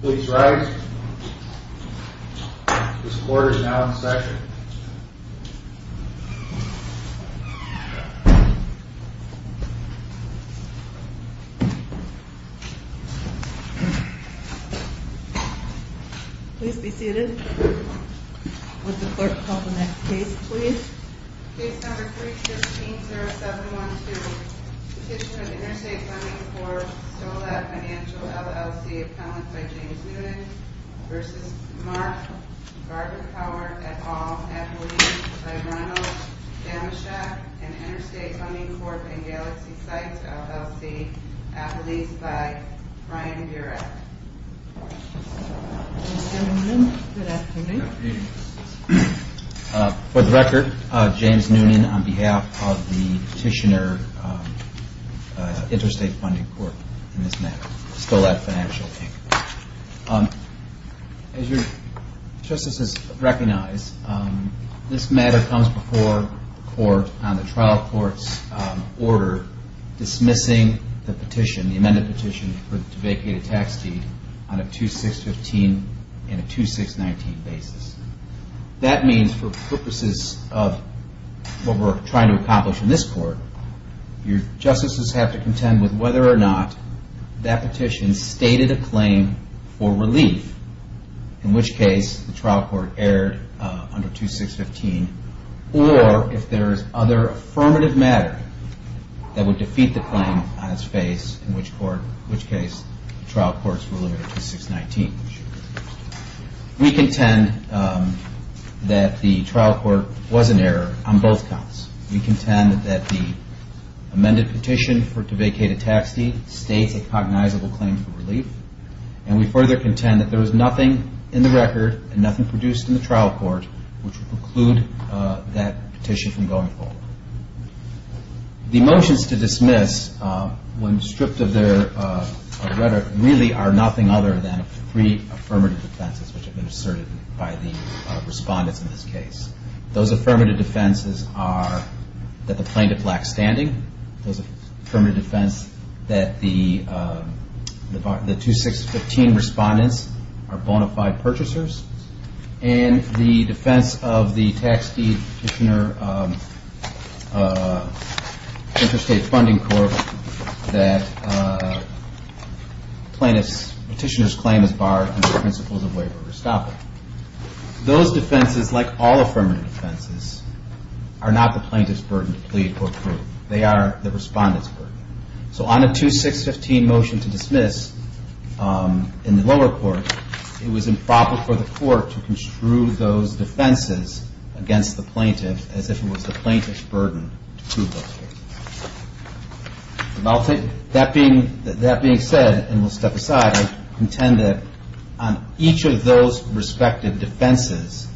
Please rise. This court is now in session. Please be seated. Would the clerk call the next case, please? Case number 315-0712. Petition of Interstate Funding Corp. v. Solat Financial, LLC. Appellant by James Newman v. Mark Varboncouer, et al. Appellee by Ronald Damaschek and Interstate Funding Corp. v. Galaxy Sites, LLC. Appellee by Brian Burek. Mr. Newman, good afternoon. Good afternoon. For the record, James Newman on behalf of the Petitioner Interstate Funding Corp. in this matter, Solat Financial, Inc. As your justices recognize, this matter comes before the court on the trial court's order dismissing the petition, the amended petition, to vacate a tax deed on a 2-615 and a 2-619 basis. That means for purposes of what we're trying to accomplish in this court, your justices have to contend with whether or not that petition stated a claim for relief, in which case the trial court erred under 2-615, or if there is other affirmative matter that would defeat the claim on its face, in which case the trial court's ruling on 2-619. We contend that the trial court was an error on both counts. We contend that the amended petition to vacate a tax deed states a cognizable claim for relief, and we further contend that there was nothing in the record and nothing produced in the trial court which would preclude that petition from going forward. The motions to dismiss, when stripped of their rhetoric, really are nothing other than three affirmative defenses which have been asserted by the respondents in this case. Those affirmative defenses are that the plaintiff lacks standing, those affirmative defense that the 2-615 respondents are bona fide purchasers, and the defense of the Tax Deed Petitioner Interstate Funding Corp that the petitioner's claim is barred under the principles of waiver or stoppage. Those defenses, like all affirmative defenses, are not the plaintiff's burden to plead or prove. They are the respondent's burden. So on a 2-615 motion to dismiss in the lower court, it was improper for the court to construe those defenses against the plaintiff as if it was the plaintiff's burden to prove those cases. That being said, and we'll step aside, I intend that on each of those respective defenses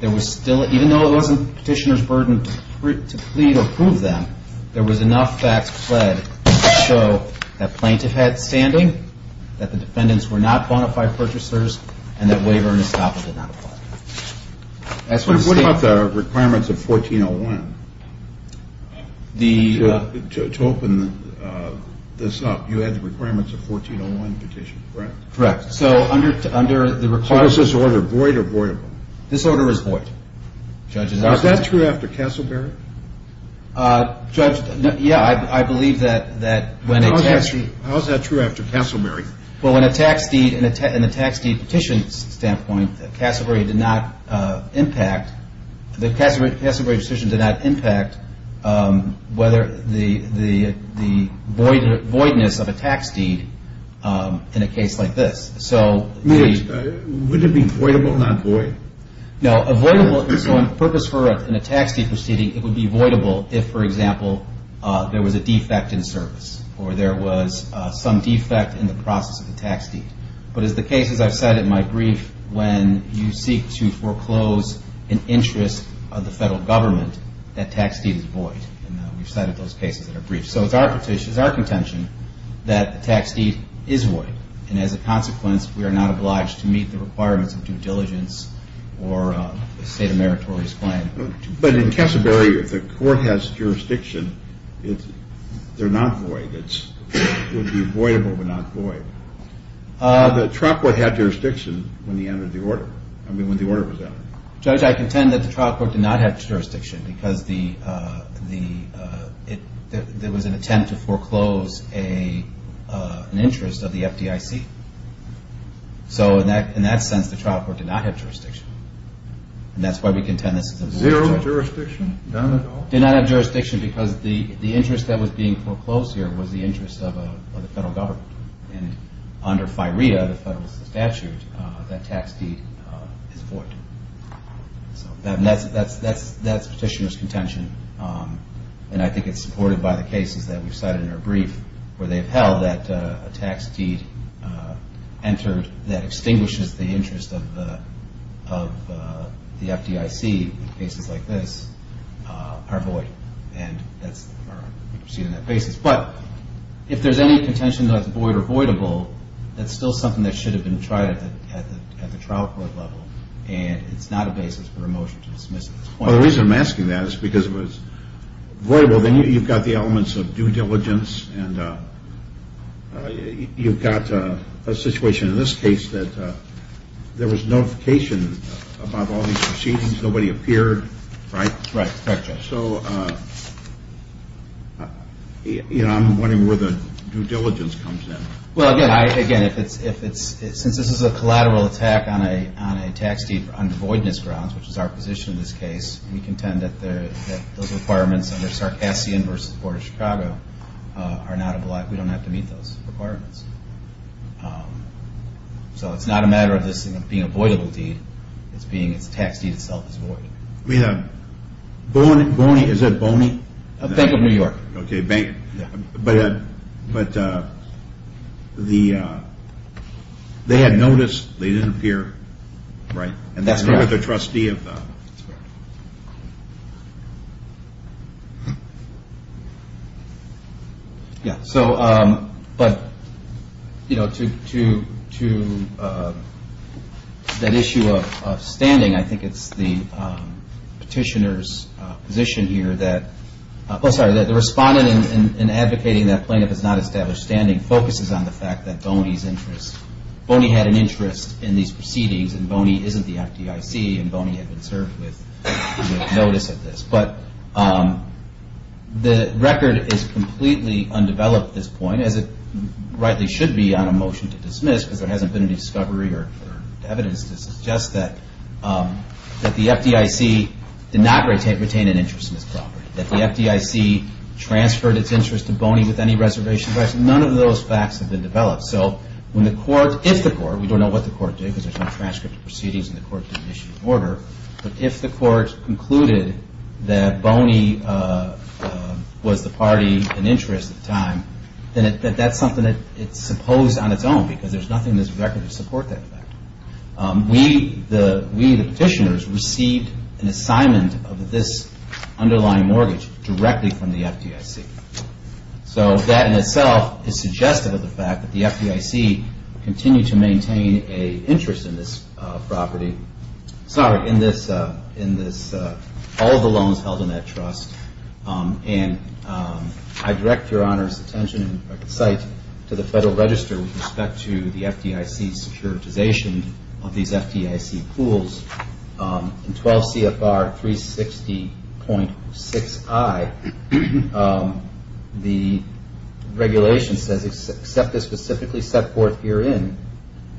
there was still, even though it wasn't the petitioner's burden to plead or prove them, there was enough facts pled to show that plaintiff had standing, that the defendants were not bona fide purchasers, and that waiver and estoppel did not apply. What about the requirements of 1401? To open this up, you had the requirements of 1401 petition, correct? Correct. So under the requirements. So was this order void or voidable? This order was void, Judge. Now, is that true after Castleberry? Judge, yeah, I believe that when a tax deed. How is that true after Castleberry? Well, when a tax deed, in a tax deed petition standpoint, Castleberry did not impact, the Castleberry petition did not impact whether the voidness of a tax deed in a case like this. So the. Would it be voidable, not void? No, a voidable, so on purpose for a tax deed proceeding, it would be voidable if, for example, there was a defect in service, or there was some defect in the process of the tax deed. But as the cases I've cited in my brief, when you seek to foreclose an interest of the federal government, that tax deed is void. And we've cited those cases in our brief. So it's our petition, it's our contention that the tax deed is void. And as a consequence, we are not obliged to meet the requirements of due diligence or the state of meritorious claim. But in Castleberry, if the court has jurisdiction, they're not void. It would be voidable, but not void. The trial court had jurisdiction when the order was entered. Judge, I contend that the trial court did not have jurisdiction because there was an attempt to foreclose an interest of the FDIC. So in that sense, the trial court did not have jurisdiction. And that's why we contend this is a void. Zero jurisdiction? None at all? Did not have jurisdiction because the interest that was being foreclosed here was the interest of the federal government. And under FIREDA, the federal statute, that tax deed is void. So that's petitioner's contention. And I think it's supported by the cases that we've cited in our brief where they've held that a tax deed entered that extinguishes the interest of the FDIC. Cases like this are void. And that's seen on that basis. But if there's any contention that it's void or voidable, that's still something that should have been tried at the trial court level. And it's not a basis for a motion to dismiss it. Well, the reason I'm asking that is because if it's voidable, then you've got the elements of due diligence. And you've got a situation in this case that there was notification about all these proceedings. Nobody appeared. Right? Right. Correct, Judge. So, you know, I'm wondering where the due diligence comes in. Well, again, since this is a collateral attack on a tax deed on the voidness grounds, which is our position in this case, we contend that those requirements under Sarcassian v. Board of Chicago, we don't have to meet those requirements. So it's not a matter of this being a voidable deed. It's being its tax deed itself is void. I mean, Boney, is that Boney? Bank of New York. But they had noticed they didn't appear, right? That's correct. And they were the trustee of the. That's correct. Yeah, so but, you know, to that issue of standing, I think it's the petitioner's position here that, oh, sorry, that the respondent in advocating that plaintiff has not established standing focuses on the fact that Boney's interest, Boney had an interest in these proceedings, and Boney isn't the FDIC, and Boney had been served with notice of this. But the record is completely undeveloped at this point, as it rightly should be on a motion to dismiss, because there hasn't been any discovery or evidence to suggest that the FDIC did not retain an interest in this property, that the FDIC transferred its interest to Boney with any reservation. None of those facts have been developed. So when the court, if the court, we don't know what the court did because there's no transcript of proceedings, and the court didn't issue an order, but if the court concluded that Boney was the party in interest at the time, then that's something that it's supposed on its own because there's nothing in this record to support that fact. We, the petitioners, received an assignment of this underlying mortgage directly from the FDIC. So that in itself is suggestive of the fact that the FDIC continued to maintain an interest in this property, sorry, in this, all the loans held in that trust. And I direct Your Honor's attention and sight to the Federal Register with respect to the FDIC's securitization of these FDIC pools. In 12 CFR 360.6i, the regulation says, except as specifically set forth herein,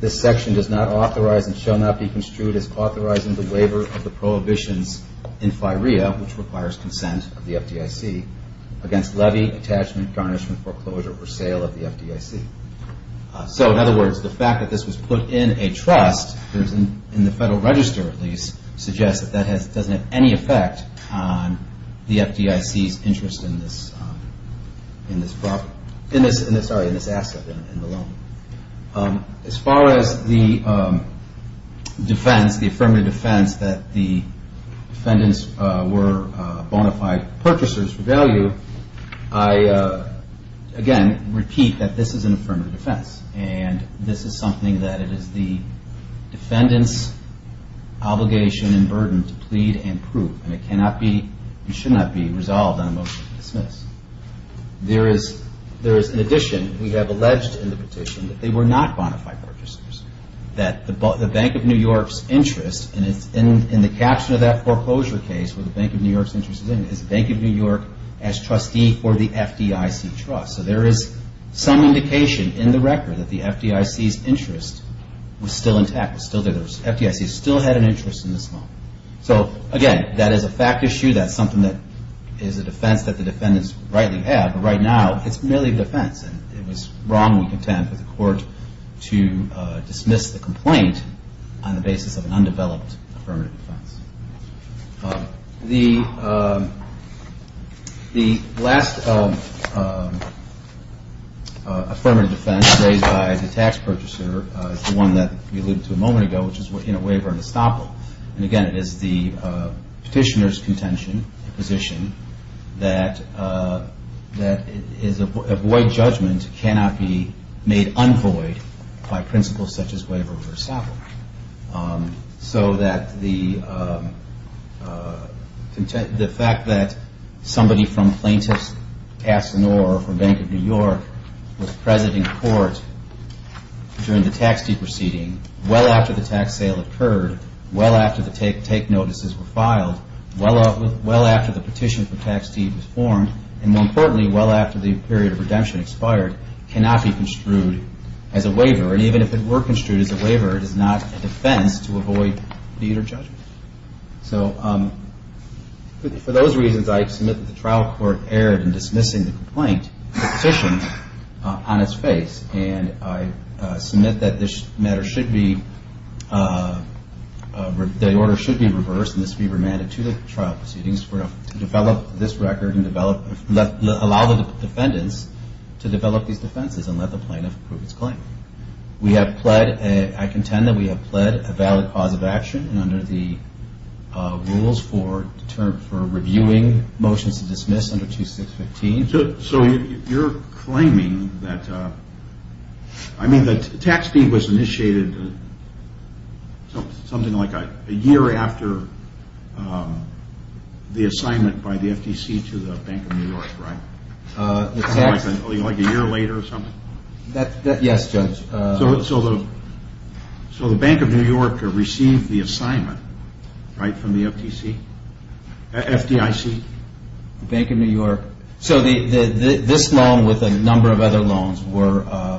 this section does not authorize and shall not be construed as authorizing the waiver of the prohibitions in FIREA, which requires consent of the FDIC, against levy, attachment, garnishment, foreclosure, or sale of the FDIC. So in other words, the fact that this was put in a trust, in the Federal Register at least, suggests that that doesn't have any effect on the FDIC's interest in this asset, in the loan. As far as the defense, the affirmative defense that the defendants were bona fide purchasers for value, I again repeat that this is an affirmative defense. And this is something that it is the defendant's obligation and burden to plead and prove. And it cannot be, it should not be resolved on a motion to dismiss. There is, in addition, we have alleged in the petition that they were not bona fide purchasers. That the Bank of New York's interest, and it's in the caption of that foreclosure case, where the Bank of New York's interest is in, is the Bank of New York as trustee for the FDIC trust. So there is some indication in the record that the FDIC's interest was still intact, was still there. The FDIC still had an interest in this loan. So again, that is a fact issue. That is something that is a defense that the defendants rightly have. But right now, it's merely a defense. And it was wrongly content for the court to dismiss the complaint on the basis of an undeveloped affirmative defense. The last affirmative defense raised by the tax purchaser is the one that we alluded to a moment ago, which is waiver and estoppel. And again, it is the petitioner's contention, position, that avoid judgment cannot be made unvoid by principles such as waiver or estoppel. So that the fact that somebody from Plaintiff's Casino or from Bank of New York was present in court during the tax deed proceeding, well after the tax sale occurred, well after the take notices were filed, well after the petition for tax deed was formed, and more importantly, well after the period of redemption expired, cannot be construed as a waiver. And even if it were construed as a waiver, it is not a defense to avoid deed or judgment. So for those reasons, I submit that the trial court erred in dismissing the complaint, the petition, on its face. And I submit that this matter should be, the order should be reversed, and this be remanded to the trial proceedings to develop this record and allow the defendants to develop these defenses and let the plaintiff prove its claim. We have pled, I contend that we have pled a valid cause of action and under the rules for reviewing motions to dismiss under 2615. So you're claiming that, I mean the tax deed was initiated something like a year after the assignment by the FTC to the Bank of New York, right? Like a year later or something? Yes, Judge. So the Bank of New York received the assignment, right, from the FTC, FDIC? The Bank of New York. So this loan with a number of other loans were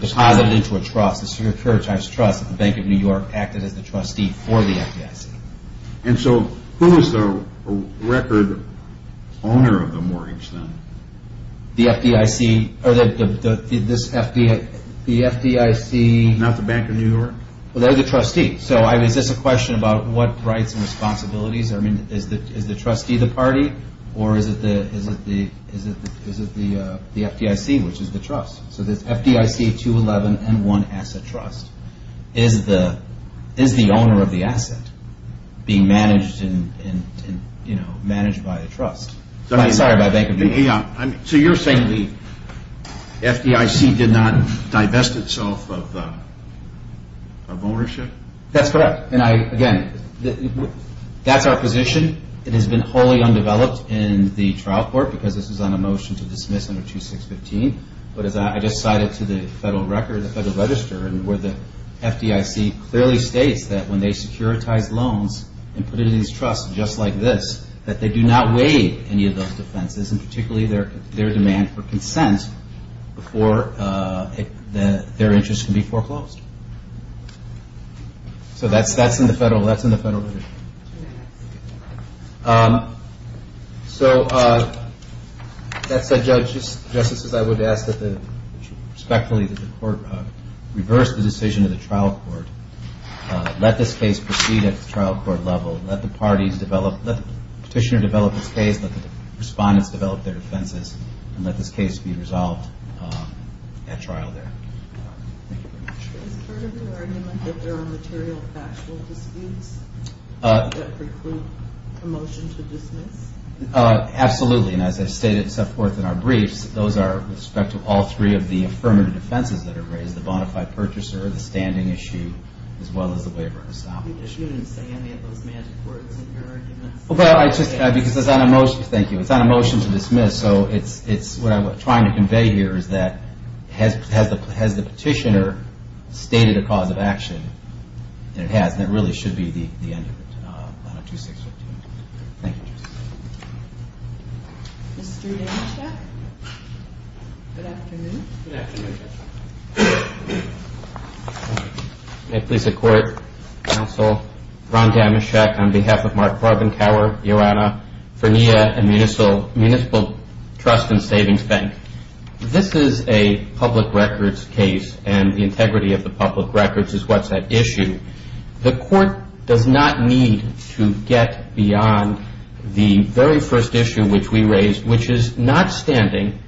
deposited into a trust, the Securitized Trust at the Bank of New York acted as the trustee for the FDIC. And so who is the record owner of the mortgage then? The FDIC, or the, this FDIC. Not the Bank of New York? Well, they're the trustee. So is this a question about what rights and responsibilities, I mean is the trustee the party or is it the FDIC, which is the trust? So this FDIC 211 M1 Asset Trust is the owner of the asset being managed by the trust. I'm sorry, by Bank of New York. So you're saying the FDIC did not divest itself of ownership? That's correct. And I, again, that's our position. It has been wholly undeveloped in the trial court because this is on a motion to dismiss under 2615. But as I just cited to the federal record, the Federal Register, where the FDIC clearly states that when they securitize loans and put it in these trusts just like this, that they do not waive any of those defenses and particularly their demand for consent before their interest can be foreclosed. So that's in the Federal Register. So that said, Justices, I would ask that you respectfully reverse the decision of the trial court, let this case proceed at the trial court level, let the parties develop, let the petitioner develop his case, let the respondents develop their defenses, and let this case be resolved at trial there. Thank you very much. Is part of your argument that there are material factual disputes that preclude a motion to dismiss? Absolutely. And as I've stated and set forth in our briefs, those are with respect to all three of the affirmative defenses that are raised, the bona fide purchaser, the standing issue, as well as the waiver and establishment. You didn't say any of those magic words in your arguments. Well, I just, because it's not a motion, thank you. It's not a motion to dismiss, so it's what I'm trying to convey here is that has the petitioner stated a cause of action? And it has, and it really should be the end of it, on a 2-6-15. Thank you, Justice. Good afternoon, Justice. May it please the Court. Counsel, Ron Damoschek on behalf of Mark Farbenkauer, Ioanna Furnia, and Municipal Trust and Savings Bank. This is a public records case, and the integrity of the public records is what's at issue. The Court does not need to get beyond the very first issue which we raised, which is not standing.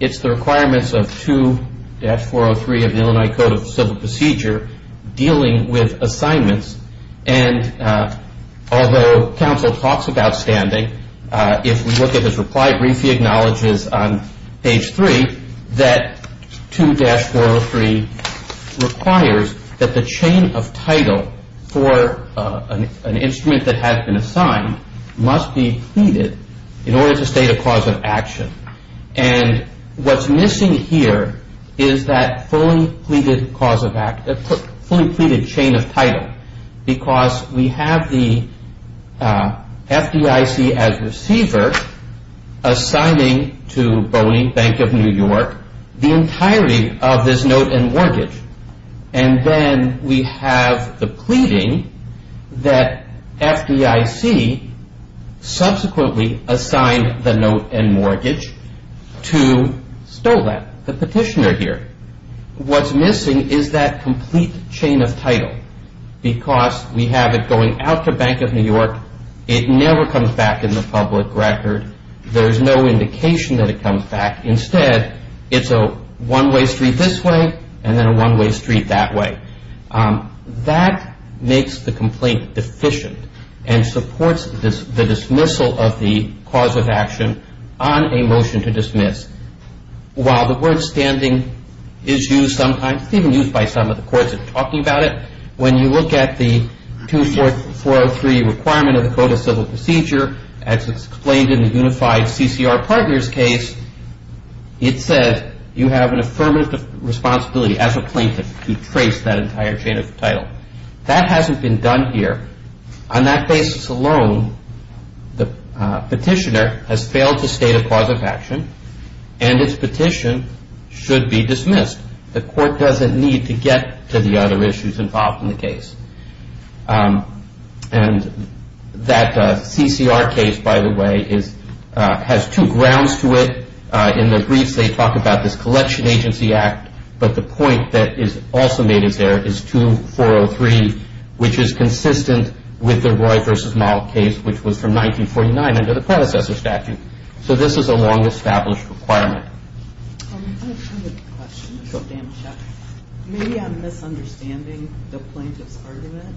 It's the requirements of 2-403 of the Illinois Code of Civil Procedure dealing with assignments, and although counsel talks about standing, if we look at his reply, briefly acknowledges on page 3 that 2-403 requires that the chain of title for an instrument that has been assigned must be pleaded in order to state a cause of action, and what's missing here is that fully pleaded chain of title, because we have the FDIC as receiver assigning to Boney Bank of New York the entirety of this note and mortgage, and then we have the pleading that FDIC subsequently assigned the note and mortgage to Stolen, the petitioner here. What's missing is that complete chain of title, because we have it going out to Bank of New York. It never comes back in the public record. There's no indication that it comes back. Instead, it's a one-way street this way and then a one-way street that way. That makes the complaint deficient and supports the dismissal of the cause of action on a motion to dismiss. While the word standing is used sometimes, it's even used by some of the courts that are talking about it, when you look at the 2-403 requirement of the Code of Civil Procedure, as it's explained in the Unified CCR Partners case, it says you have an affirmative responsibility as a plaintiff to trace that entire chain of title. That hasn't been done here. On that basis alone, the petitioner has failed to state a cause of action, and its petition should be dismissed. The court doesn't need to get to the other issues involved in the case. That CCR case, by the way, has two grounds to it. In the briefs, they talk about this Collection Agency Act, but the point that is also made is there is 2-403, which is consistent with the Roy v. Moll case, which was from 1949 under the predecessor statute. This is a long-established requirement. I have a question. Maybe I'm misunderstanding the plaintiff's argument,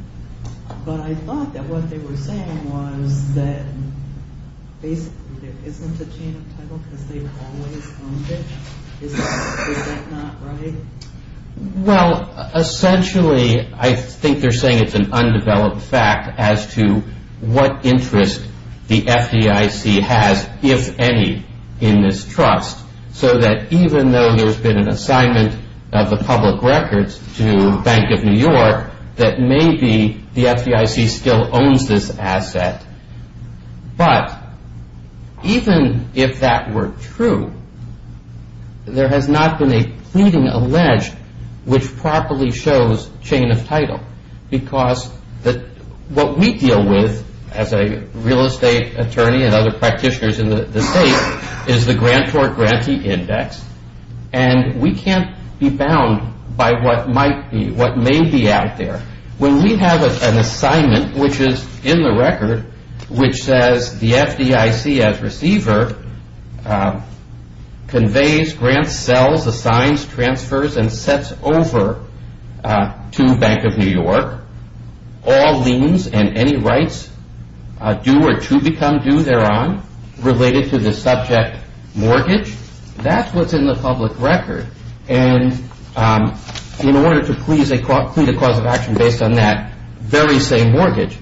but I thought that what they were saying was that there isn't a chain of title because they've always owned it. Is that not right? Well, essentially, I think they're saying it's an undeveloped fact as to what interest the FDIC has, if any, in this trust, so that even though there's been an assignment of the public records to Bank of New York, that maybe the FDIC still owns this asset. But even if that were true, there has not been a pleading alleged which properly shows chain of title because what we deal with as a real estate attorney and other practitioners in the state is the grantor-grantee index, and we can't be bound by what might be, what may be out there. When we have an assignment which is in the record, which says the FDIC, as receiver, conveys, grants, sells, assigns, transfers, and sets over to Bank of New York all liens and any rights due or to become due thereon related to the subject mortgage, that's what's in the public record. And in order to plead a cause of action based on that very same mortgage,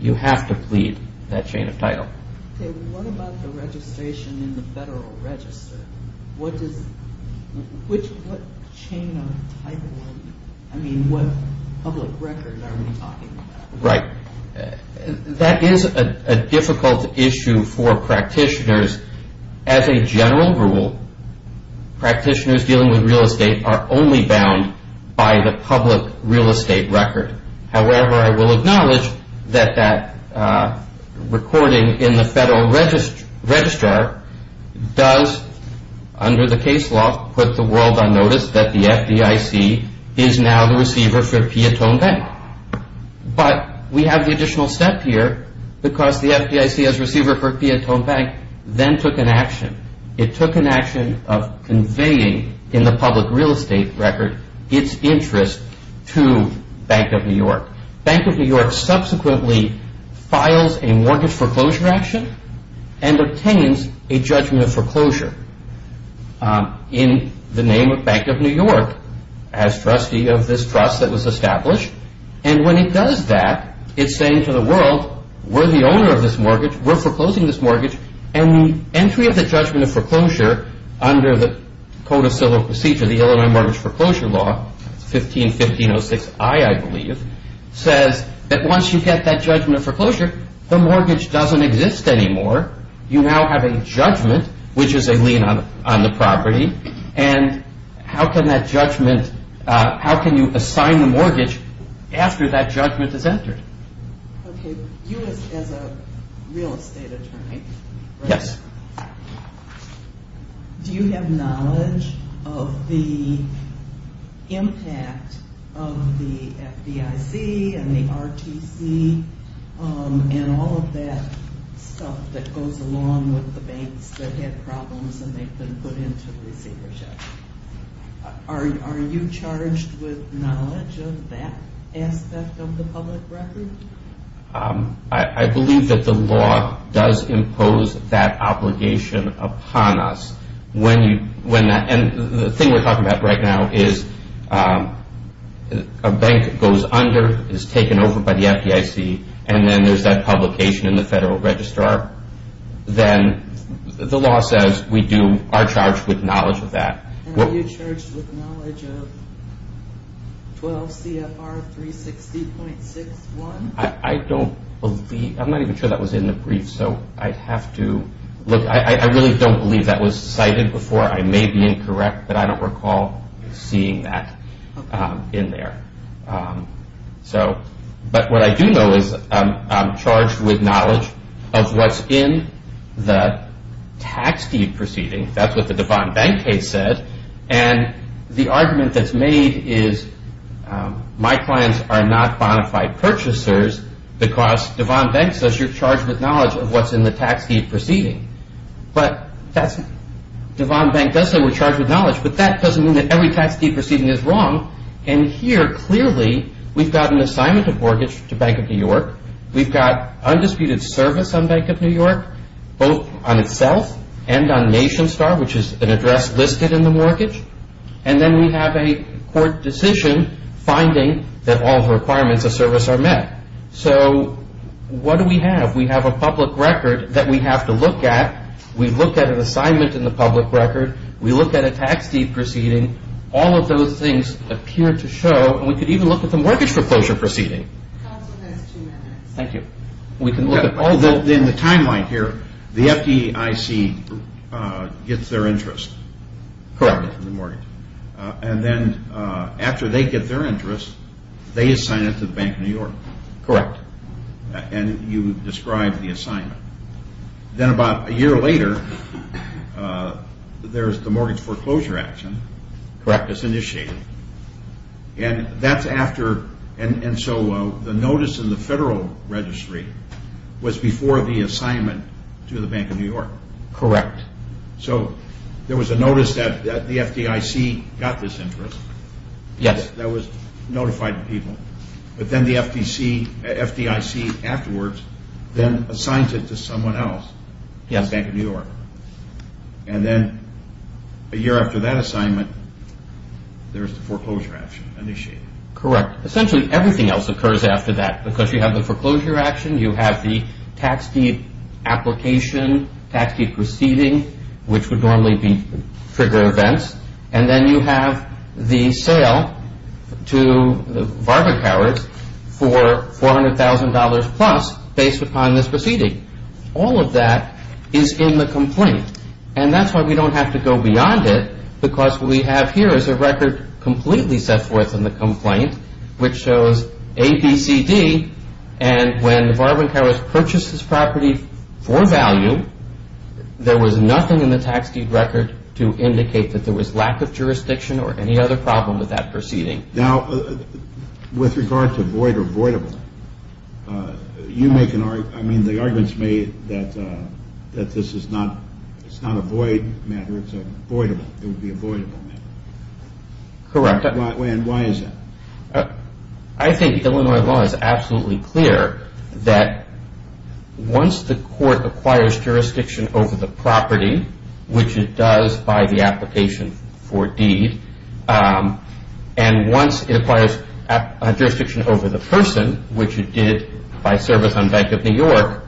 you have to plead that chain of title. Okay, what about the registration in the federal register? What does, which, what chain of title, I mean, what public record are we talking about? Right. That is a difficult issue for practitioners. As a general rule, practitioners dealing with real estate are only bound by the public real estate record. However, I will acknowledge that that recording in the federal registrar does, under the case law, put the world on notice that the FDIC is now the receiver for Piatone Bank. But we have the additional step here because the FDIC as receiver for Piatone Bank then took an action. It took an action of conveying in the public real estate record its interest to Bank of New York. Bank of New York subsequently files a mortgage foreclosure action and obtains a judgment of foreclosure in the name of Bank of New York as trustee of this trust that was established. And when it does that, it's saying to the world, we're the owner of this mortgage, we're foreclosing this mortgage, and the entry of the judgment of foreclosure under the Code of Civil Procedure, the Illinois Mortgage Foreclosure Law, 15-1506I, I believe, says that once you get that judgment of foreclosure, the mortgage doesn't exist anymore. You now have a judgment, which is a lien on the property. And how can that judgment, how can you assign the mortgage after that judgment is entered? Okay, you as a real estate attorney, do you have knowledge of the impact of the FDIC and the RTC and all of that stuff that goes along with the banks that had problems and they've been put into receivership? Are you charged with knowledge of that aspect of the public record? I believe that the law does impose that obligation upon us. And the thing we're talking about right now is a bank goes under, is taken over by the FDIC, and then there's that publication in the Federal Registrar. Then the law says we are charged with knowledge of that. And are you charged with knowledge of 12 CFR 360.61? I don't believe, I'm not even sure that was in the brief, so I'd have to look. I really don't believe that was cited before. I may be incorrect, but I don't recall seeing that in there. But what I do know is I'm charged with knowledge of what's in the tax deed proceeding. That's what the Devon Bank case said. And the argument that's made is my clients are not bonafide purchasers because Devon Bank says you're charged with knowledge of what's in the tax deed proceeding. But Devon Bank does say we're charged with knowledge, but that doesn't mean that every tax deed proceeding is wrong. And here, clearly, we've got an assignment of mortgage to Bank of New York. We've got undisputed service on Bank of New York, both on itself and on NationStar, which is an address listed in the mortgage. And then we have a court decision finding that all the requirements of service are met. So what do we have? We have a public record that we have to look at. We've looked at an assignment in the public record. We looked at a tax deed proceeding. All of those things appear to show. And we could even look at the mortgage foreclosure proceeding. Counsel has two minutes. Thank you. We can look at all those. In the timeline here, the FDIC gets their interest. Correct. In the mortgage. And then after they get their interest, they assign it to Bank of New York. Correct. And you describe the assignment. Then about a year later, there's the mortgage foreclosure action. Correct. It's initiated. And that's after. And so the notice in the federal registry was before the assignment to the Bank of New York. Correct. So there was a notice that the FDIC got this interest. Yes. That was notified to people. But then the FDIC afterwards then assigns it to someone else. Yes. Bank of New York. And then a year after that assignment, there's the foreclosure action initiated. Correct. Essentially everything else occurs after that. Because you have the foreclosure action. You have the tax deed application, tax deed proceeding, which would normally trigger events. And then you have the sale to the Varbonkowers for $400,000 plus based upon this proceeding. All of that is in the complaint. And that's why we don't have to go beyond it because what we have here is a record completely set forth in the complaint, which shows A, B, C, D. And when the Varbonkowers purchased this property for value, there was nothing in the tax deed record to indicate that there was lack of jurisdiction or any other problem with that proceeding. Now, with regard to void or voidable, you make an argument. I mean, the argument's made that this is not a void matter. It's a voidable. It would be a voidable matter. Correct. And why is that? I think Illinois law is absolutely clear that once the court acquires jurisdiction over the property, which it does by the application for deed, and once it acquires jurisdiction over the person, which it did by service on Bank of New York,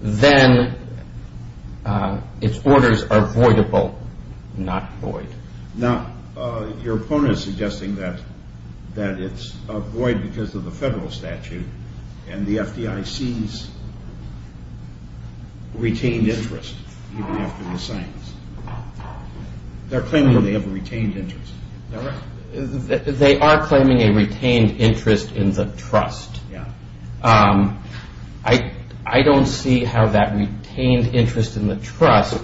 then its orders are voidable, not void. Now, your opponent is suggesting that it's a void because of the federal statute and the FDIC's retained interest even after the signs. They're claiming they have a retained interest. They are claiming a retained interest in the trust. I don't see how that retained interest in the trust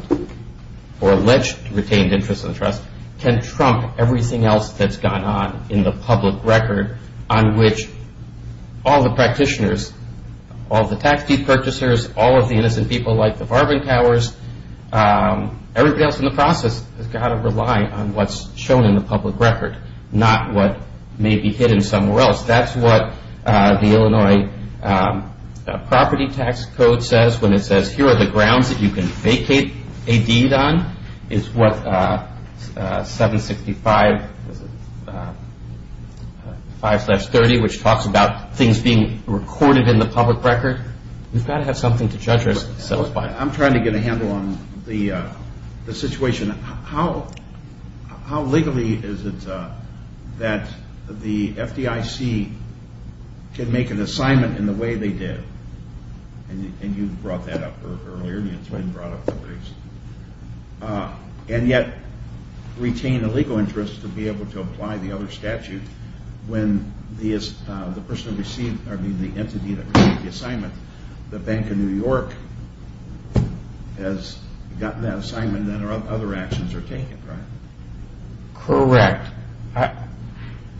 or alleged retained interest in the trust can trump everything else that's gone on in the public record on which all the practitioners, all the tax deed purchasers, all of the innocent people like the Varbonkowers, everybody else in the process has got to rely on what's shown in the public record, not what may be hidden somewhere else. That's what the Illinois Property Tax Code says when it says, here are the grounds that you can vacate a deed on is what 765.5-30, which talks about things being recorded in the public record. We've got to have something to judge us by. I'm trying to get a handle on the situation. How legally is it that the FDIC can make an assignment in the way they did? And you brought that up earlier. And yet retain a legal interest to be able to apply the other statute when the entity that received the assignment, the Bank of New York, has gotten that assignment and other actions are taken, right? Correct.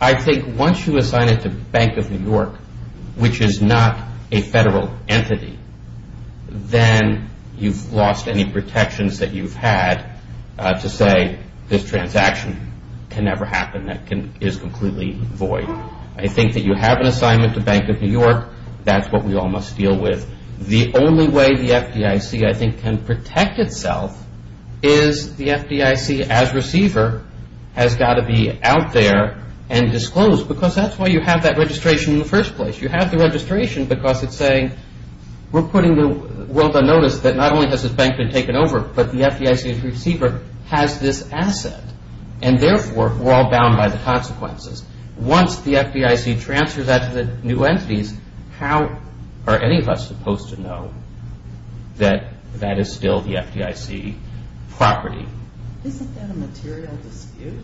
I think once you assign it to Bank of New York, which is not a federal entity, then you've lost any protections that you've had to say this transaction can never happen, that it is completely void. I think that you have an assignment to Bank of New York. That's what we all must deal with. The only way the FDIC, I think, can protect itself is the FDIC as receiver has got to be out there and disclosed, because that's why you have that registration in the first place. You have the registration because it's saying, we're putting the notice that not only has this bank been taken over, but the FDIC as receiver has this asset. And therefore, we're all bound by the consequences. Once the FDIC transfers that to the new entities, how are any of us supposed to know that that is still the FDIC property? Isn't that a material dispute?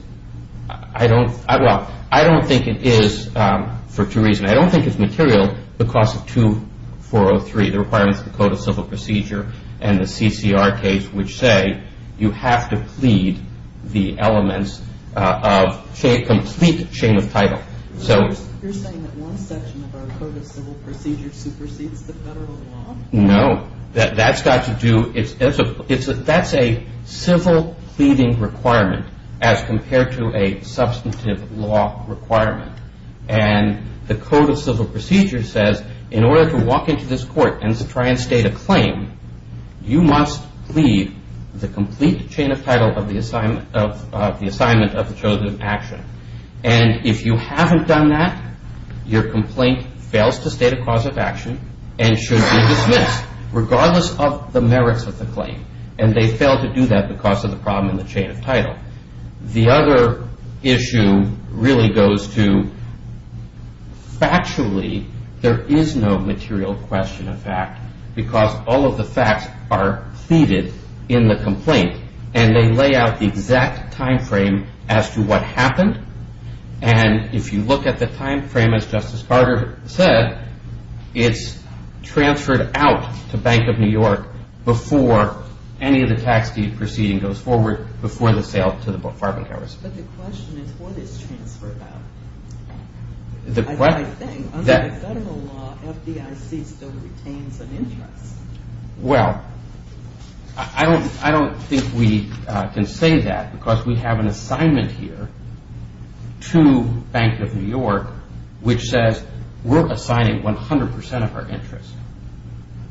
I don't think it is for two reasons. I don't think it's material because of 2403, the requirements of the Code of Civil Procedure and the CCR case, which say you have to plead the elements of complete shame of title. You're saying that one section of our Code of Civil Procedure supersedes the federal law? No. That's a civil pleading requirement as compared to a substantive law requirement. And the Code of Civil Procedure says, you must plead the complete chain of title of the assignment of the chosen action. And if you haven't done that, your complaint fails to state a cause of action and should be dismissed, regardless of the merits of the claim. And they fail to do that because of the problem in the chain of title. The other issue really goes to, factually, there is no material question of fact because all of the facts are pleaded in the complaint. And they lay out the exact time frame as to what happened. And if you look at the time frame, as Justice Carter said, it's transferred out to Bank of New York before any of the tax deed proceeding goes forward, before the sale to the Farbenghauer's. But the question is, what is transfer about? I think, under federal law, FDIC still retains an interest. Well, I don't think we can say that because we have an assignment here to Bank of New York which says we're assigning 100% of our interest.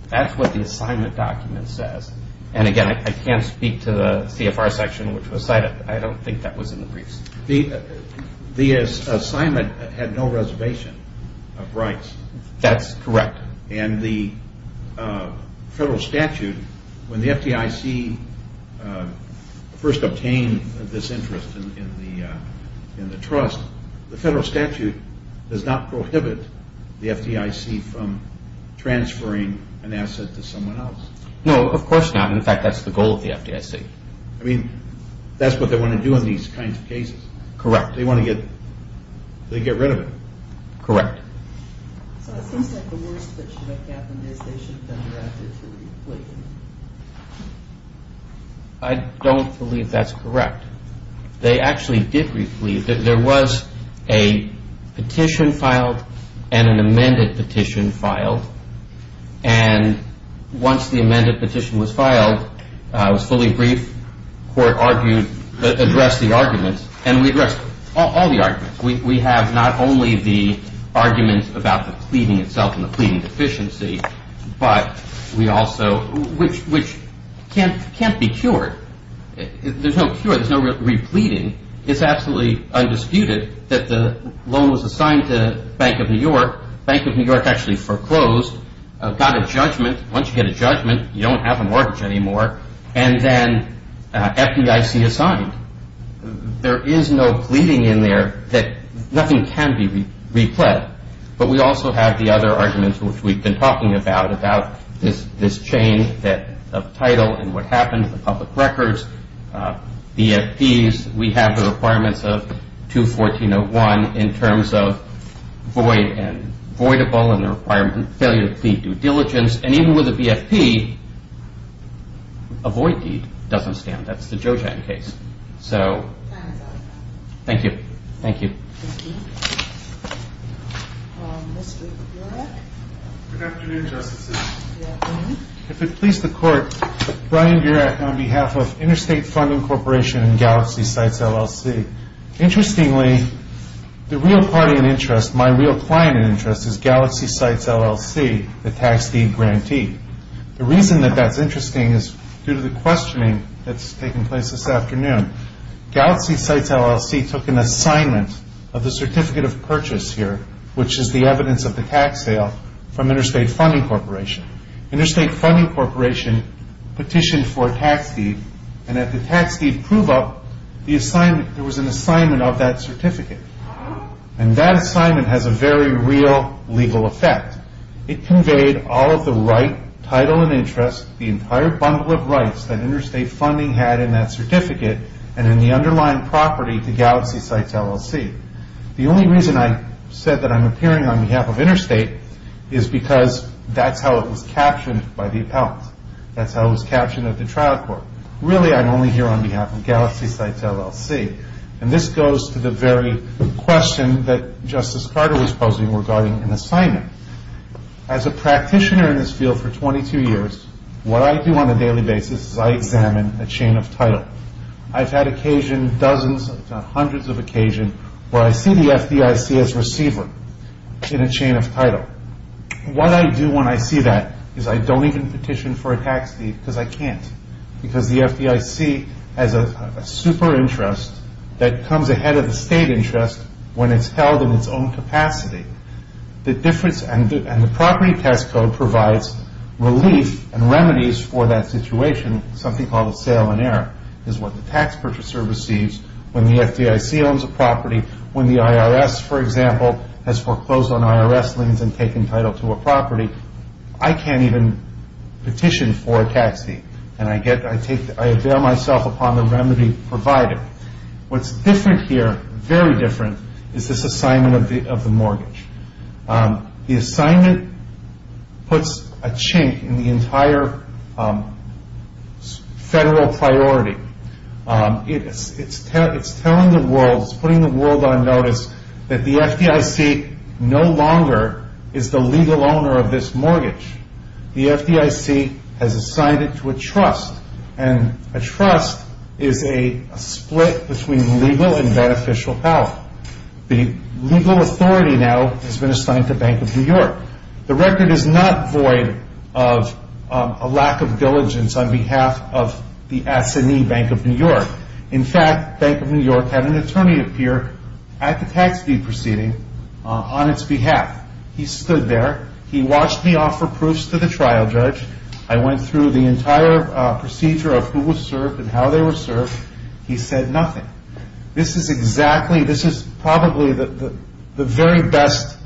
That's what the assignment document says. And again, I can't speak to the CFR section which was cited. I don't think that was in the briefs. The assignment had no reservation of rights. That's correct. And the federal statute, when the FDIC first obtained this interest in the trust, the federal statute does not prohibit the FDIC from transferring an asset to someone else. No, of course not. In fact, that's the goal of the FDIC. I mean, that's what they want to do in these kinds of cases. Correct. They want to get rid of it. Correct. I don't believe that's correct. They actually did replete. There was a petition filed and an amended petition filed. And once the amended petition was filed, it was fully briefed, court argued, addressed the arguments, and we addressed all the arguments. We have not only the arguments about the pleading itself and the pleading deficiency, but we also, which can't be cured. There's no cure. There's no repleting. It's absolutely undisputed that the loan was assigned to Bank of New York. Bank of New York actually foreclosed, got a judgment. Once you get a judgment, you don't have a mortgage anymore, and then FDIC assigned. There is no pleading in there that nothing can be replete. But we also have the other arguments which we've been talking about, about this change of title and what happened to the public records, the FDs. We have the requirements of 214.01 in terms of void and voidable and the requirement of failure to plead due diligence. And even with a BFP, a void deed doesn't stand. That's the Jojan case. So, thank you. Thank you. Thank you. Mr. Burek. Good afternoon, Justices. Good afternoon. If it please the Court, Brian Burek on behalf of Interstate Funding Corporation and Galaxy Sites, LLC. Interestingly, the real party in interest, my real client in interest, is Galaxy Sites, LLC, the tax deed grantee. The reason that that's interesting is due to the questioning that's taking place this afternoon. Galaxy Sites, LLC took an assignment of the certificate of purchase here, which is the evidence of the tax sale from Interstate Funding Corporation. Interstate Funding Corporation petitioned for a tax deed and at the tax deed prove-up, there was an assignment of that certificate. And that assignment has a very real legal effect. It conveyed all of the right, title and interest, the entire bundle of rights that Interstate Funding had in that certificate and in the underlying property to Galaxy Sites, LLC. The only reason I said that I'm appearing on behalf of Interstate is because that's how it was captioned by the appellant. That's how it was captioned at the trial court. Really, I'm only here on behalf of Galaxy Sites, LLC. And this goes to the very question that Justice Carter was posing regarding an assignment. As a practitioner in this field for 22 years, what I do on a daily basis is I examine a chain of title. I've had occasion, dozens, hundreds of occasion, where I see the FDIC as receiver in a chain of title. What I do when I see that is I don't even petition for a tax deed because I can't because the FDIC has a super interest that comes ahead of the state interest when it's held in its own capacity. And the property test code provides relief and remedies for that situation, something called a sale in error, is what the tax purchaser receives when the FDIC owns a property. When the IRS, for example, has foreclosed on IRS liens and taken title to a property, I can't even petition for a tax deed. And I avail myself upon the remedy provided. What's different here, very different, is this assignment of the mortgage. The assignment puts a chink in the entire federal priority. It's telling the world, it's putting the world on notice that the FDIC no longer is the legal owner of this mortgage. The FDIC has assigned it to a trust, and a trust is a split between legal and beneficial power. The legal authority now has been assigned to Bank of New York. The record is not void of a lack of diligence on behalf of the Assinee Bank of New York. In fact, Bank of New York had an attorney appear at the tax deed proceeding on its behalf. He stood there. He watched me offer proofs to the trial judge. I went through the entire procedure of who was served and how they were served. He said nothing. This is exactly, this is probably the very best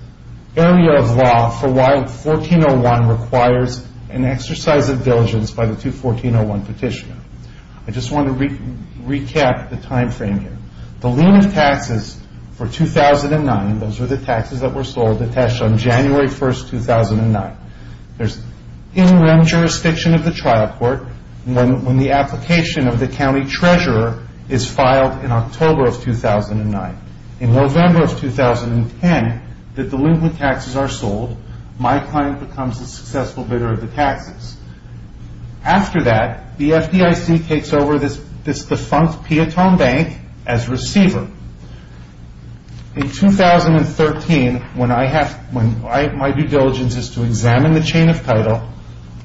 area of law for why 1401 requires an exercise of diligence by the 214-01 petitioner. I just want to recap the time frame here. The lien of taxes for 2009, those were the taxes that were sold to Tesh on January 1, 2009. There's in-room jurisdiction of the trial court when the application of the county treasurer is filed in October of 2009. In November of 2010, the delinquent taxes are sold. My client becomes a successful bidder of the taxes. After that, the FDIC takes over this defunct Piatone Bank as receiver. In 2013, when my due diligence is to examine the chain of title,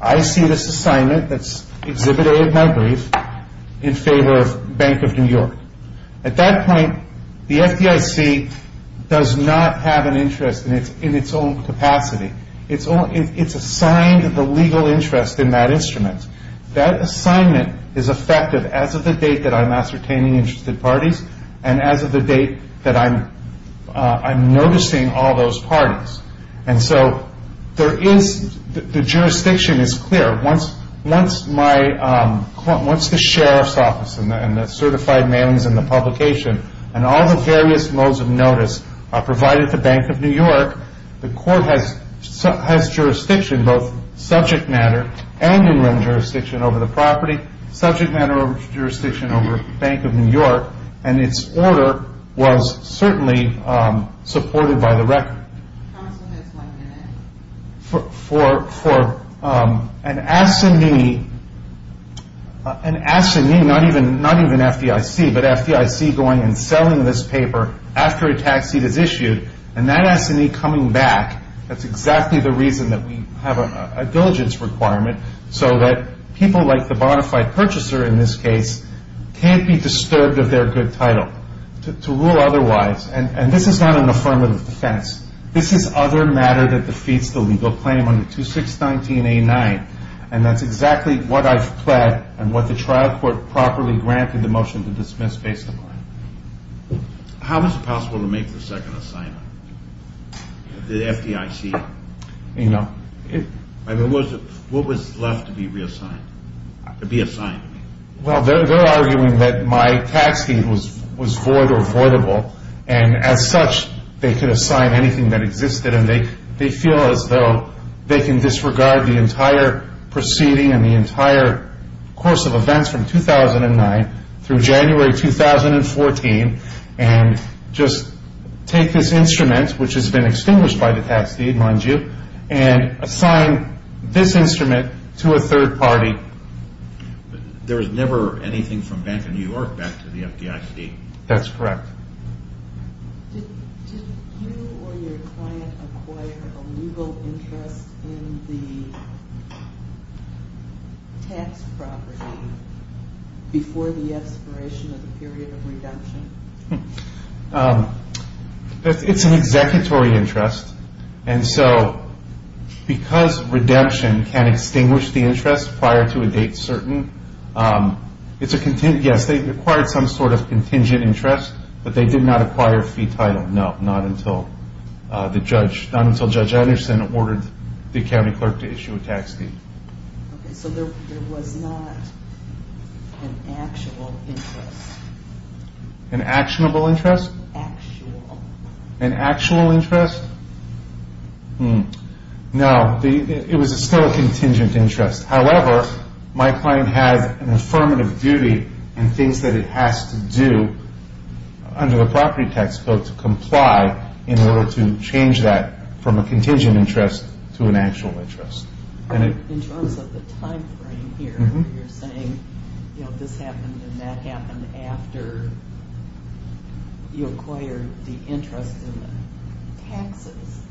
I see this assignment that's Exhibit A of my brief in favor of Bank of New York. At that point, the FDIC does not have an interest in its own capacity. It's assigned the legal interest in that instrument. That assignment is effective as of the date that I'm ascertaining interested parties and as of the date that I'm noticing all those parties. The jurisdiction is clear. Once the sheriff's office and the certified mailings and the publication and all the various modes of notice are provided to Bank of New York, the court has jurisdiction, both subject matter and in-room jurisdiction over the property, subject matter jurisdiction over Bank of New York, and its order was certainly supported by the record. How much time is one minute? For an assignee, an assignee, not even FDIC, but FDIC going and selling this paper after a tax seat is issued, and that assignee coming back, that's exactly the reason that we have a diligence requirement so that people like the bona fide purchaser in this case can't be disturbed of their good title to rule otherwise, and this is not an affirmative defense. This is other matter that defeats the legal claim under 2619A9, and that's exactly what I've pled and what the trial court properly granted the motion to dismiss based upon. How is it possible to make the second assignment? The FDIC? You know. What was left to be reassigned? To be assigned? Well, they're arguing that my tax deed was void or voidable, and as such, they could assign anything that existed, and they feel as though they can disregard the entire proceeding and the entire course of events from 2009 through January 2014 and just take this instrument, which has been extinguished by the tax deed, mind you, and assign this instrument to a third party. There was never anything from Bank of New York back to the FDIC. That's correct. Did you or your client acquire a legal interest in the tax property before the expiration of the period of redemption? It's an executory interest, and so because redemption can extinguish the interest prior to a date certain, yes, they acquired some sort of contingent interest, but they did not acquire a fee title. No, not until Judge Anderson ordered the county clerk to issue a tax deed. So there was not an actual interest? An actionable interest? Actual. An actual interest? No, it was still a contingent interest. However, my client has an affirmative duty and things that it has to do under the property tax code to comply in order to change that from a contingent interest to an actual interest. In terms of the time frame here, you're saying this happened and that happened after you acquired the interest in the taxes.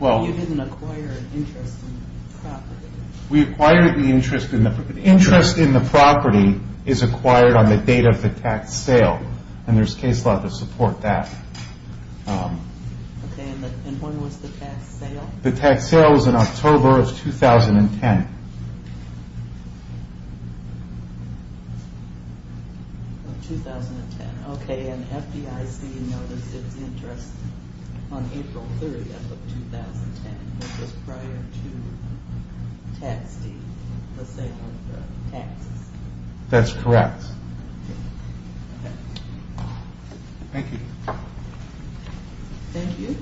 You didn't acquire an interest in the property. We acquired the interest in the property. The interest in the property is acquired on the date of the tax sale, and there's case law to support that. Okay, and when was the tax sale? The tax sale was in October of 2010. Of 2010. Okay, and FDIC noticed its interest on April 30th of 2010, which was prior to tax deed, let's say, on the taxes. That's correct. Thank you. Thank you.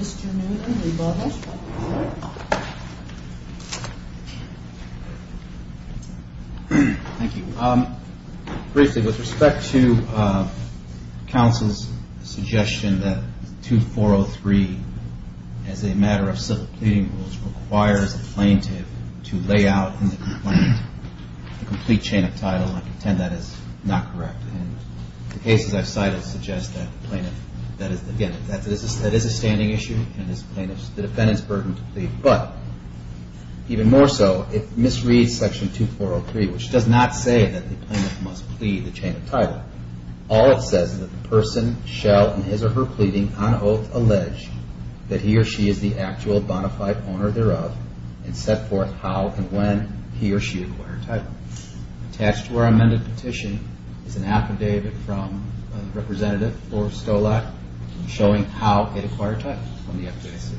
Mr. Noonan, would you bother? Thank you. Briefly, with respect to counsel's suggestion that 2403, as a matter of civil pleading rules, requires a plaintiff to lay out in the complaint a complete chain of title, I contend that is not correct. The cases I've cited suggest that, again, that is a standing issue and it's the defendant's burden to plead. But even more so, if misreads section 2403, which does not say that the plaintiff must plead the chain of title, all it says is that the person shall, in his or her pleading, on oath allege that he or she is the actual bona fide owner thereof and set forth how and when he or she acquired title. Attached to our amended petition is an affidavit from Representative Laura Stolak showing how it acquired title from the FDIC.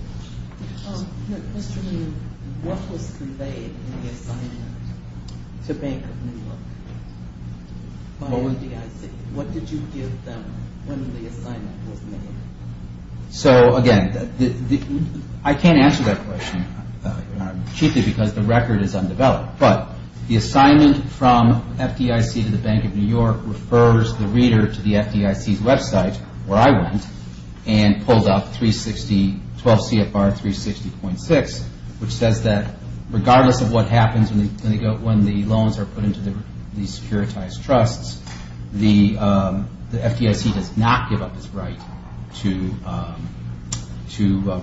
Mr. Noonan, what was conveyed in the assignment to Bank of New York by the FDIC? What did you give them when the assignment was made? So, again, I can't answer that question, Chief, because the record is undeveloped. But the assignment from FDIC to the Bank of New York refers the reader to the FDIC's website, where I went, and pulled out 360, 12 CFR 360.6, which says that regardless of what happens when the loans are put into these securitized trusts, the FDIC does not give up its right to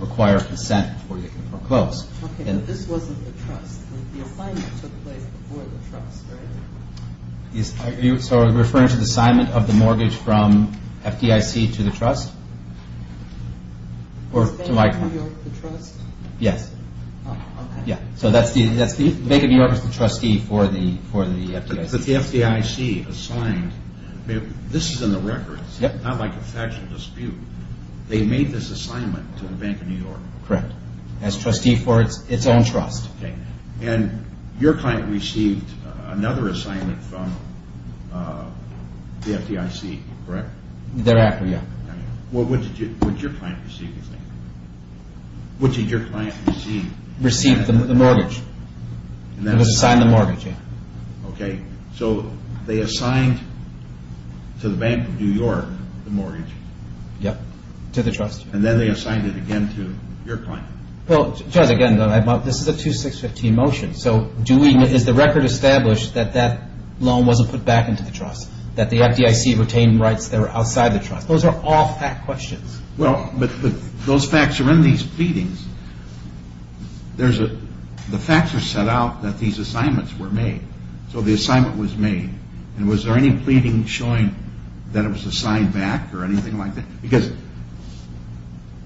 require consent before they can foreclose. Okay, but this wasn't the trust. The assignment took place before the trust, right? So are you referring to the assignment of the mortgage from FDIC to the trust? Is Bank of New York the trust? Yes. Oh, okay. Yeah, so Bank of New York is the trustee for the FDIC. But the FDIC assigned – this is in the record. It's not like a factual dispute. They made this assignment to the Bank of New York. Correct, as trustee for its own trust. Okay, and your client received another assignment from the FDIC, correct? Thereafter, yeah. What did your client receive, you think? What did your client receive? Received the mortgage. It was assigned the mortgage, yeah. Okay, so they assigned to the Bank of New York the mortgage. Yep, to the trust. And then they assigned it again to your client. Well, Judge, again, this is a 2615 motion. So is the record established that that loan wasn't put back into the trust, that the FDIC retained rights that were outside the trust? Those are all fact questions. Well, but those facts are in these pleadings. The facts are set out that these assignments were made. So the assignment was made. And was there any pleading showing that it was assigned back or anything like that? Because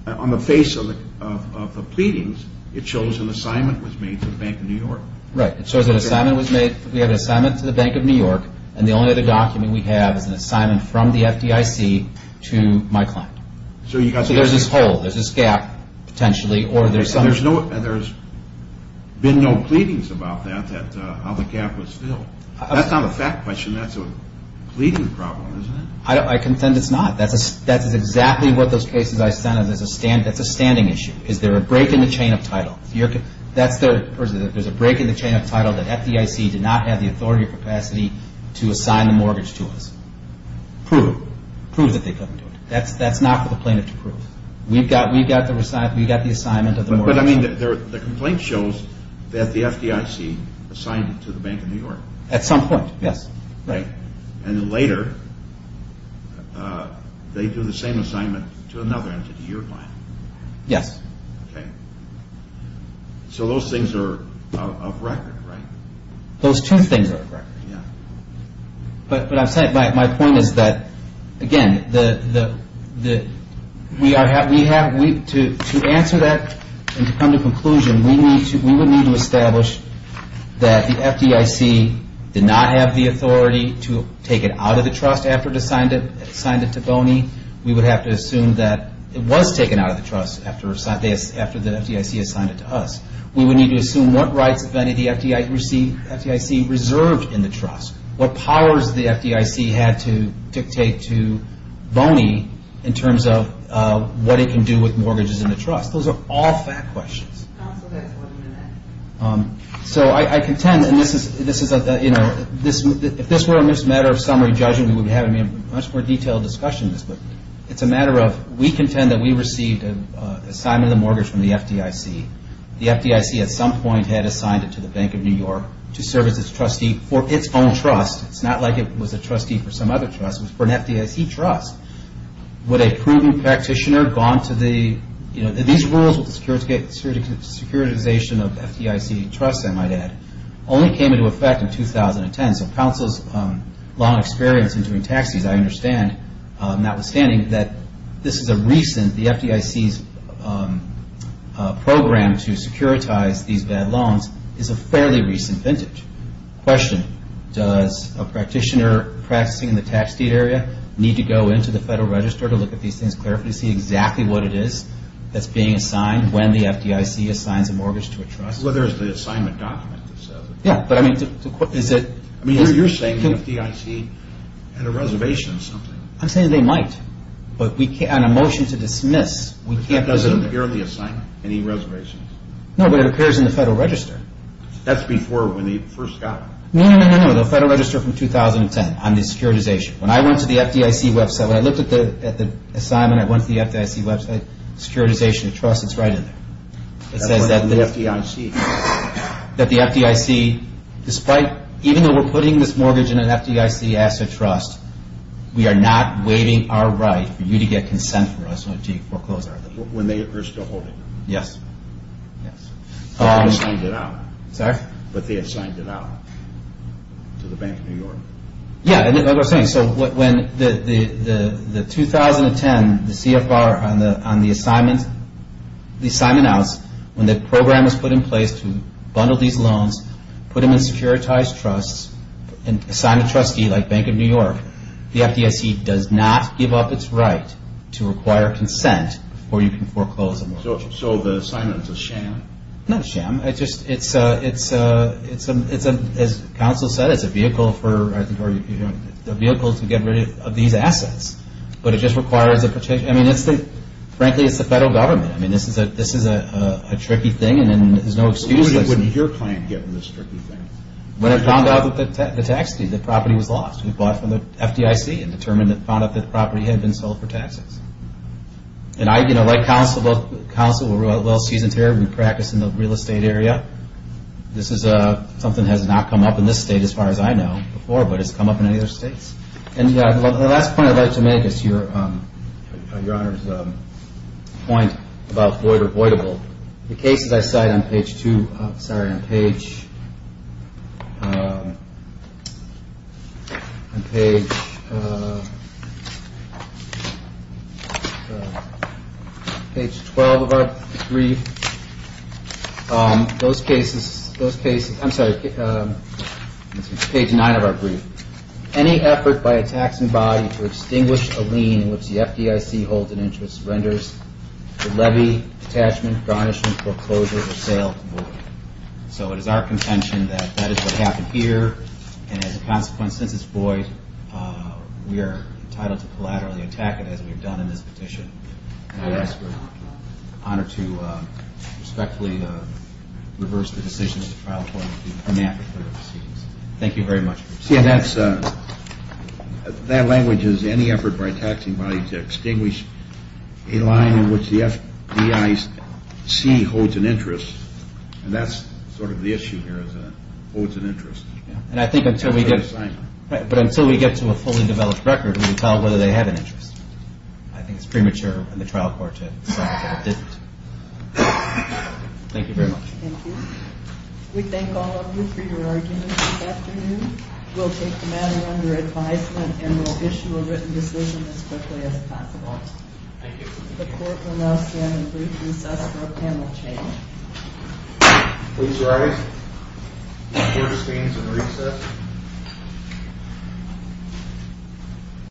on the face of the pleadings, it shows an assignment was made to the Bank of New York. Right, it shows an assignment was made. We have an assignment to the Bank of New York, and the only other document we have is an assignment from the FDIC to my client. So there's this hole, there's this gap potentially. There's been no pleadings about that, how the gap was filled. That's not a fact question. That's a pleading problem, isn't it? I contend it's not. That's exactly what those cases I sent, that's a standing issue. Is there a break in the chain of title? If there's a break in the chain of title that FDIC did not have the authority or capacity to assign the mortgage to us. Prove it. Prove that they couldn't do it. That's not for the plaintiff to prove. We've got the assignment of the mortgage. But, I mean, the complaint shows that the FDIC assigned it to the Bank of New York. At some point, yes. Right. And then later, they do the same assignment to another entity, your client. Yes. Okay. So those things are off record, right? Those two things are off record. But my point is that, again, to answer that and to come to a conclusion, we would need to establish that the FDIC did not have the authority to take it out of the trust after it assigned it to Boney. We would have to assume that it was taken out of the trust after the FDIC assigned it to us. We would need to assume what rights, if any, the FDIC reserved in the trust, what powers the FDIC had to dictate to Boney in terms of what it can do with mortgages in the trust. Those are all fact questions. So I contend, and this is, you know, if this were a matter of summary judging, we would be having a much more detailed discussion of this. But it's a matter of we contend that we received an assignment of the mortgage from the FDIC. The FDIC, at some point, had assigned it to the Bank of New York to serve as its trustee for its own trust. It's not like it was a trustee for some other trust. It was for an FDIC trust. Would a proven practitioner have gone to the, you know, these rules with the securitization of FDIC trusts, I might add, only came into effect in 2010. So counsel's long experience in doing taxes, I understand, notwithstanding that this is a recent, the FDIC's program to securitize these bad loans is a fairly recent vintage. Question. Does a practitioner practicing in the tax deed area need to go into the Federal Register to look at these things, clarify, see exactly what it is that's being assigned when the FDIC assigns a mortgage to a trust? Well, there's the assignment document that says it. Yeah, but I mean, is it? I mean, you're saying the FDIC had a reservation or something. I'm saying they might. But on a motion to dismiss, we can't presume. But that doesn't appear on the assignment, any reservations. No, but it appears in the Federal Register. That's before when they first got it. No, no, no, no, no, the Federal Register from 2010 on the securitization. When I went to the FDIC website, when I looked at the assignment, I went to the FDIC website, securitization of trusts, it's right in there. It says that the FDIC, despite, even though we're putting this mortgage in an FDIC asset trust, we are not waiving our right for you to get consent for us to foreclose our deed. When they are still holding it. Yes. But they have signed it out. Sorry? But they have signed it out to the Bank of New York. Yeah, that's what I'm saying. So when the 2010, the CFR on the assignment, the assignment outs, when the program was put in place to bundle these loans, put them in securitized trusts, and assign a trustee like Bank of New York, the FDIC does not give up its right to require consent for you to foreclose a mortgage. So the assignment is a sham? Not a sham. It's just, as counsel said, it's a vehicle to get rid of these assets. But it just requires a protection. I mean, frankly, it's the federal government. I mean, this is a tricky thing, and there's no excuse. When did your client get in this tricky thing? When I found out that the property was lost. We bought from the FDIC and found out that the property had been sold for taxes. And, you know, like counsel, we're well seasoned here. We practice in the real estate area. This is something that has not come up in this state as far as I know before, but it's come up in other states. And the last point I'd like to make is your Honor's point about void or voidable. The cases I cite on page 12 of our brief, those cases, I'm sorry, page 9 of our brief. Any effort by a taxing body to extinguish a lien in which the FDIC holds an interest renders the levy, attachment, garnishment, foreclosure, or sale void. So it is our contention that that is what happened here. And as a consequence, since it's void, we are entitled to collaterally attack it, as we have done in this petition. And I ask for your Honor to respectfully reverse the decisions of the trial court and be grammatical in the proceedings. Thank you very much. See, that language is any effort by a taxing body to extinguish a lien in which the FDIC holds an interest. And that's sort of the issue here is that it holds an interest. But until we get to a fully developed record, we can tell whether they have an interest. I think it's premature in the trial court to say that it didn't. Thank you very much. Thank you. We thank all of you for your arguments this afternoon. We'll take the matter under advisement and we'll issue a written decision as quickly as possible. Thank you. The court will now stand in brief recess for a panel change. Please rise. The court abstains in recess.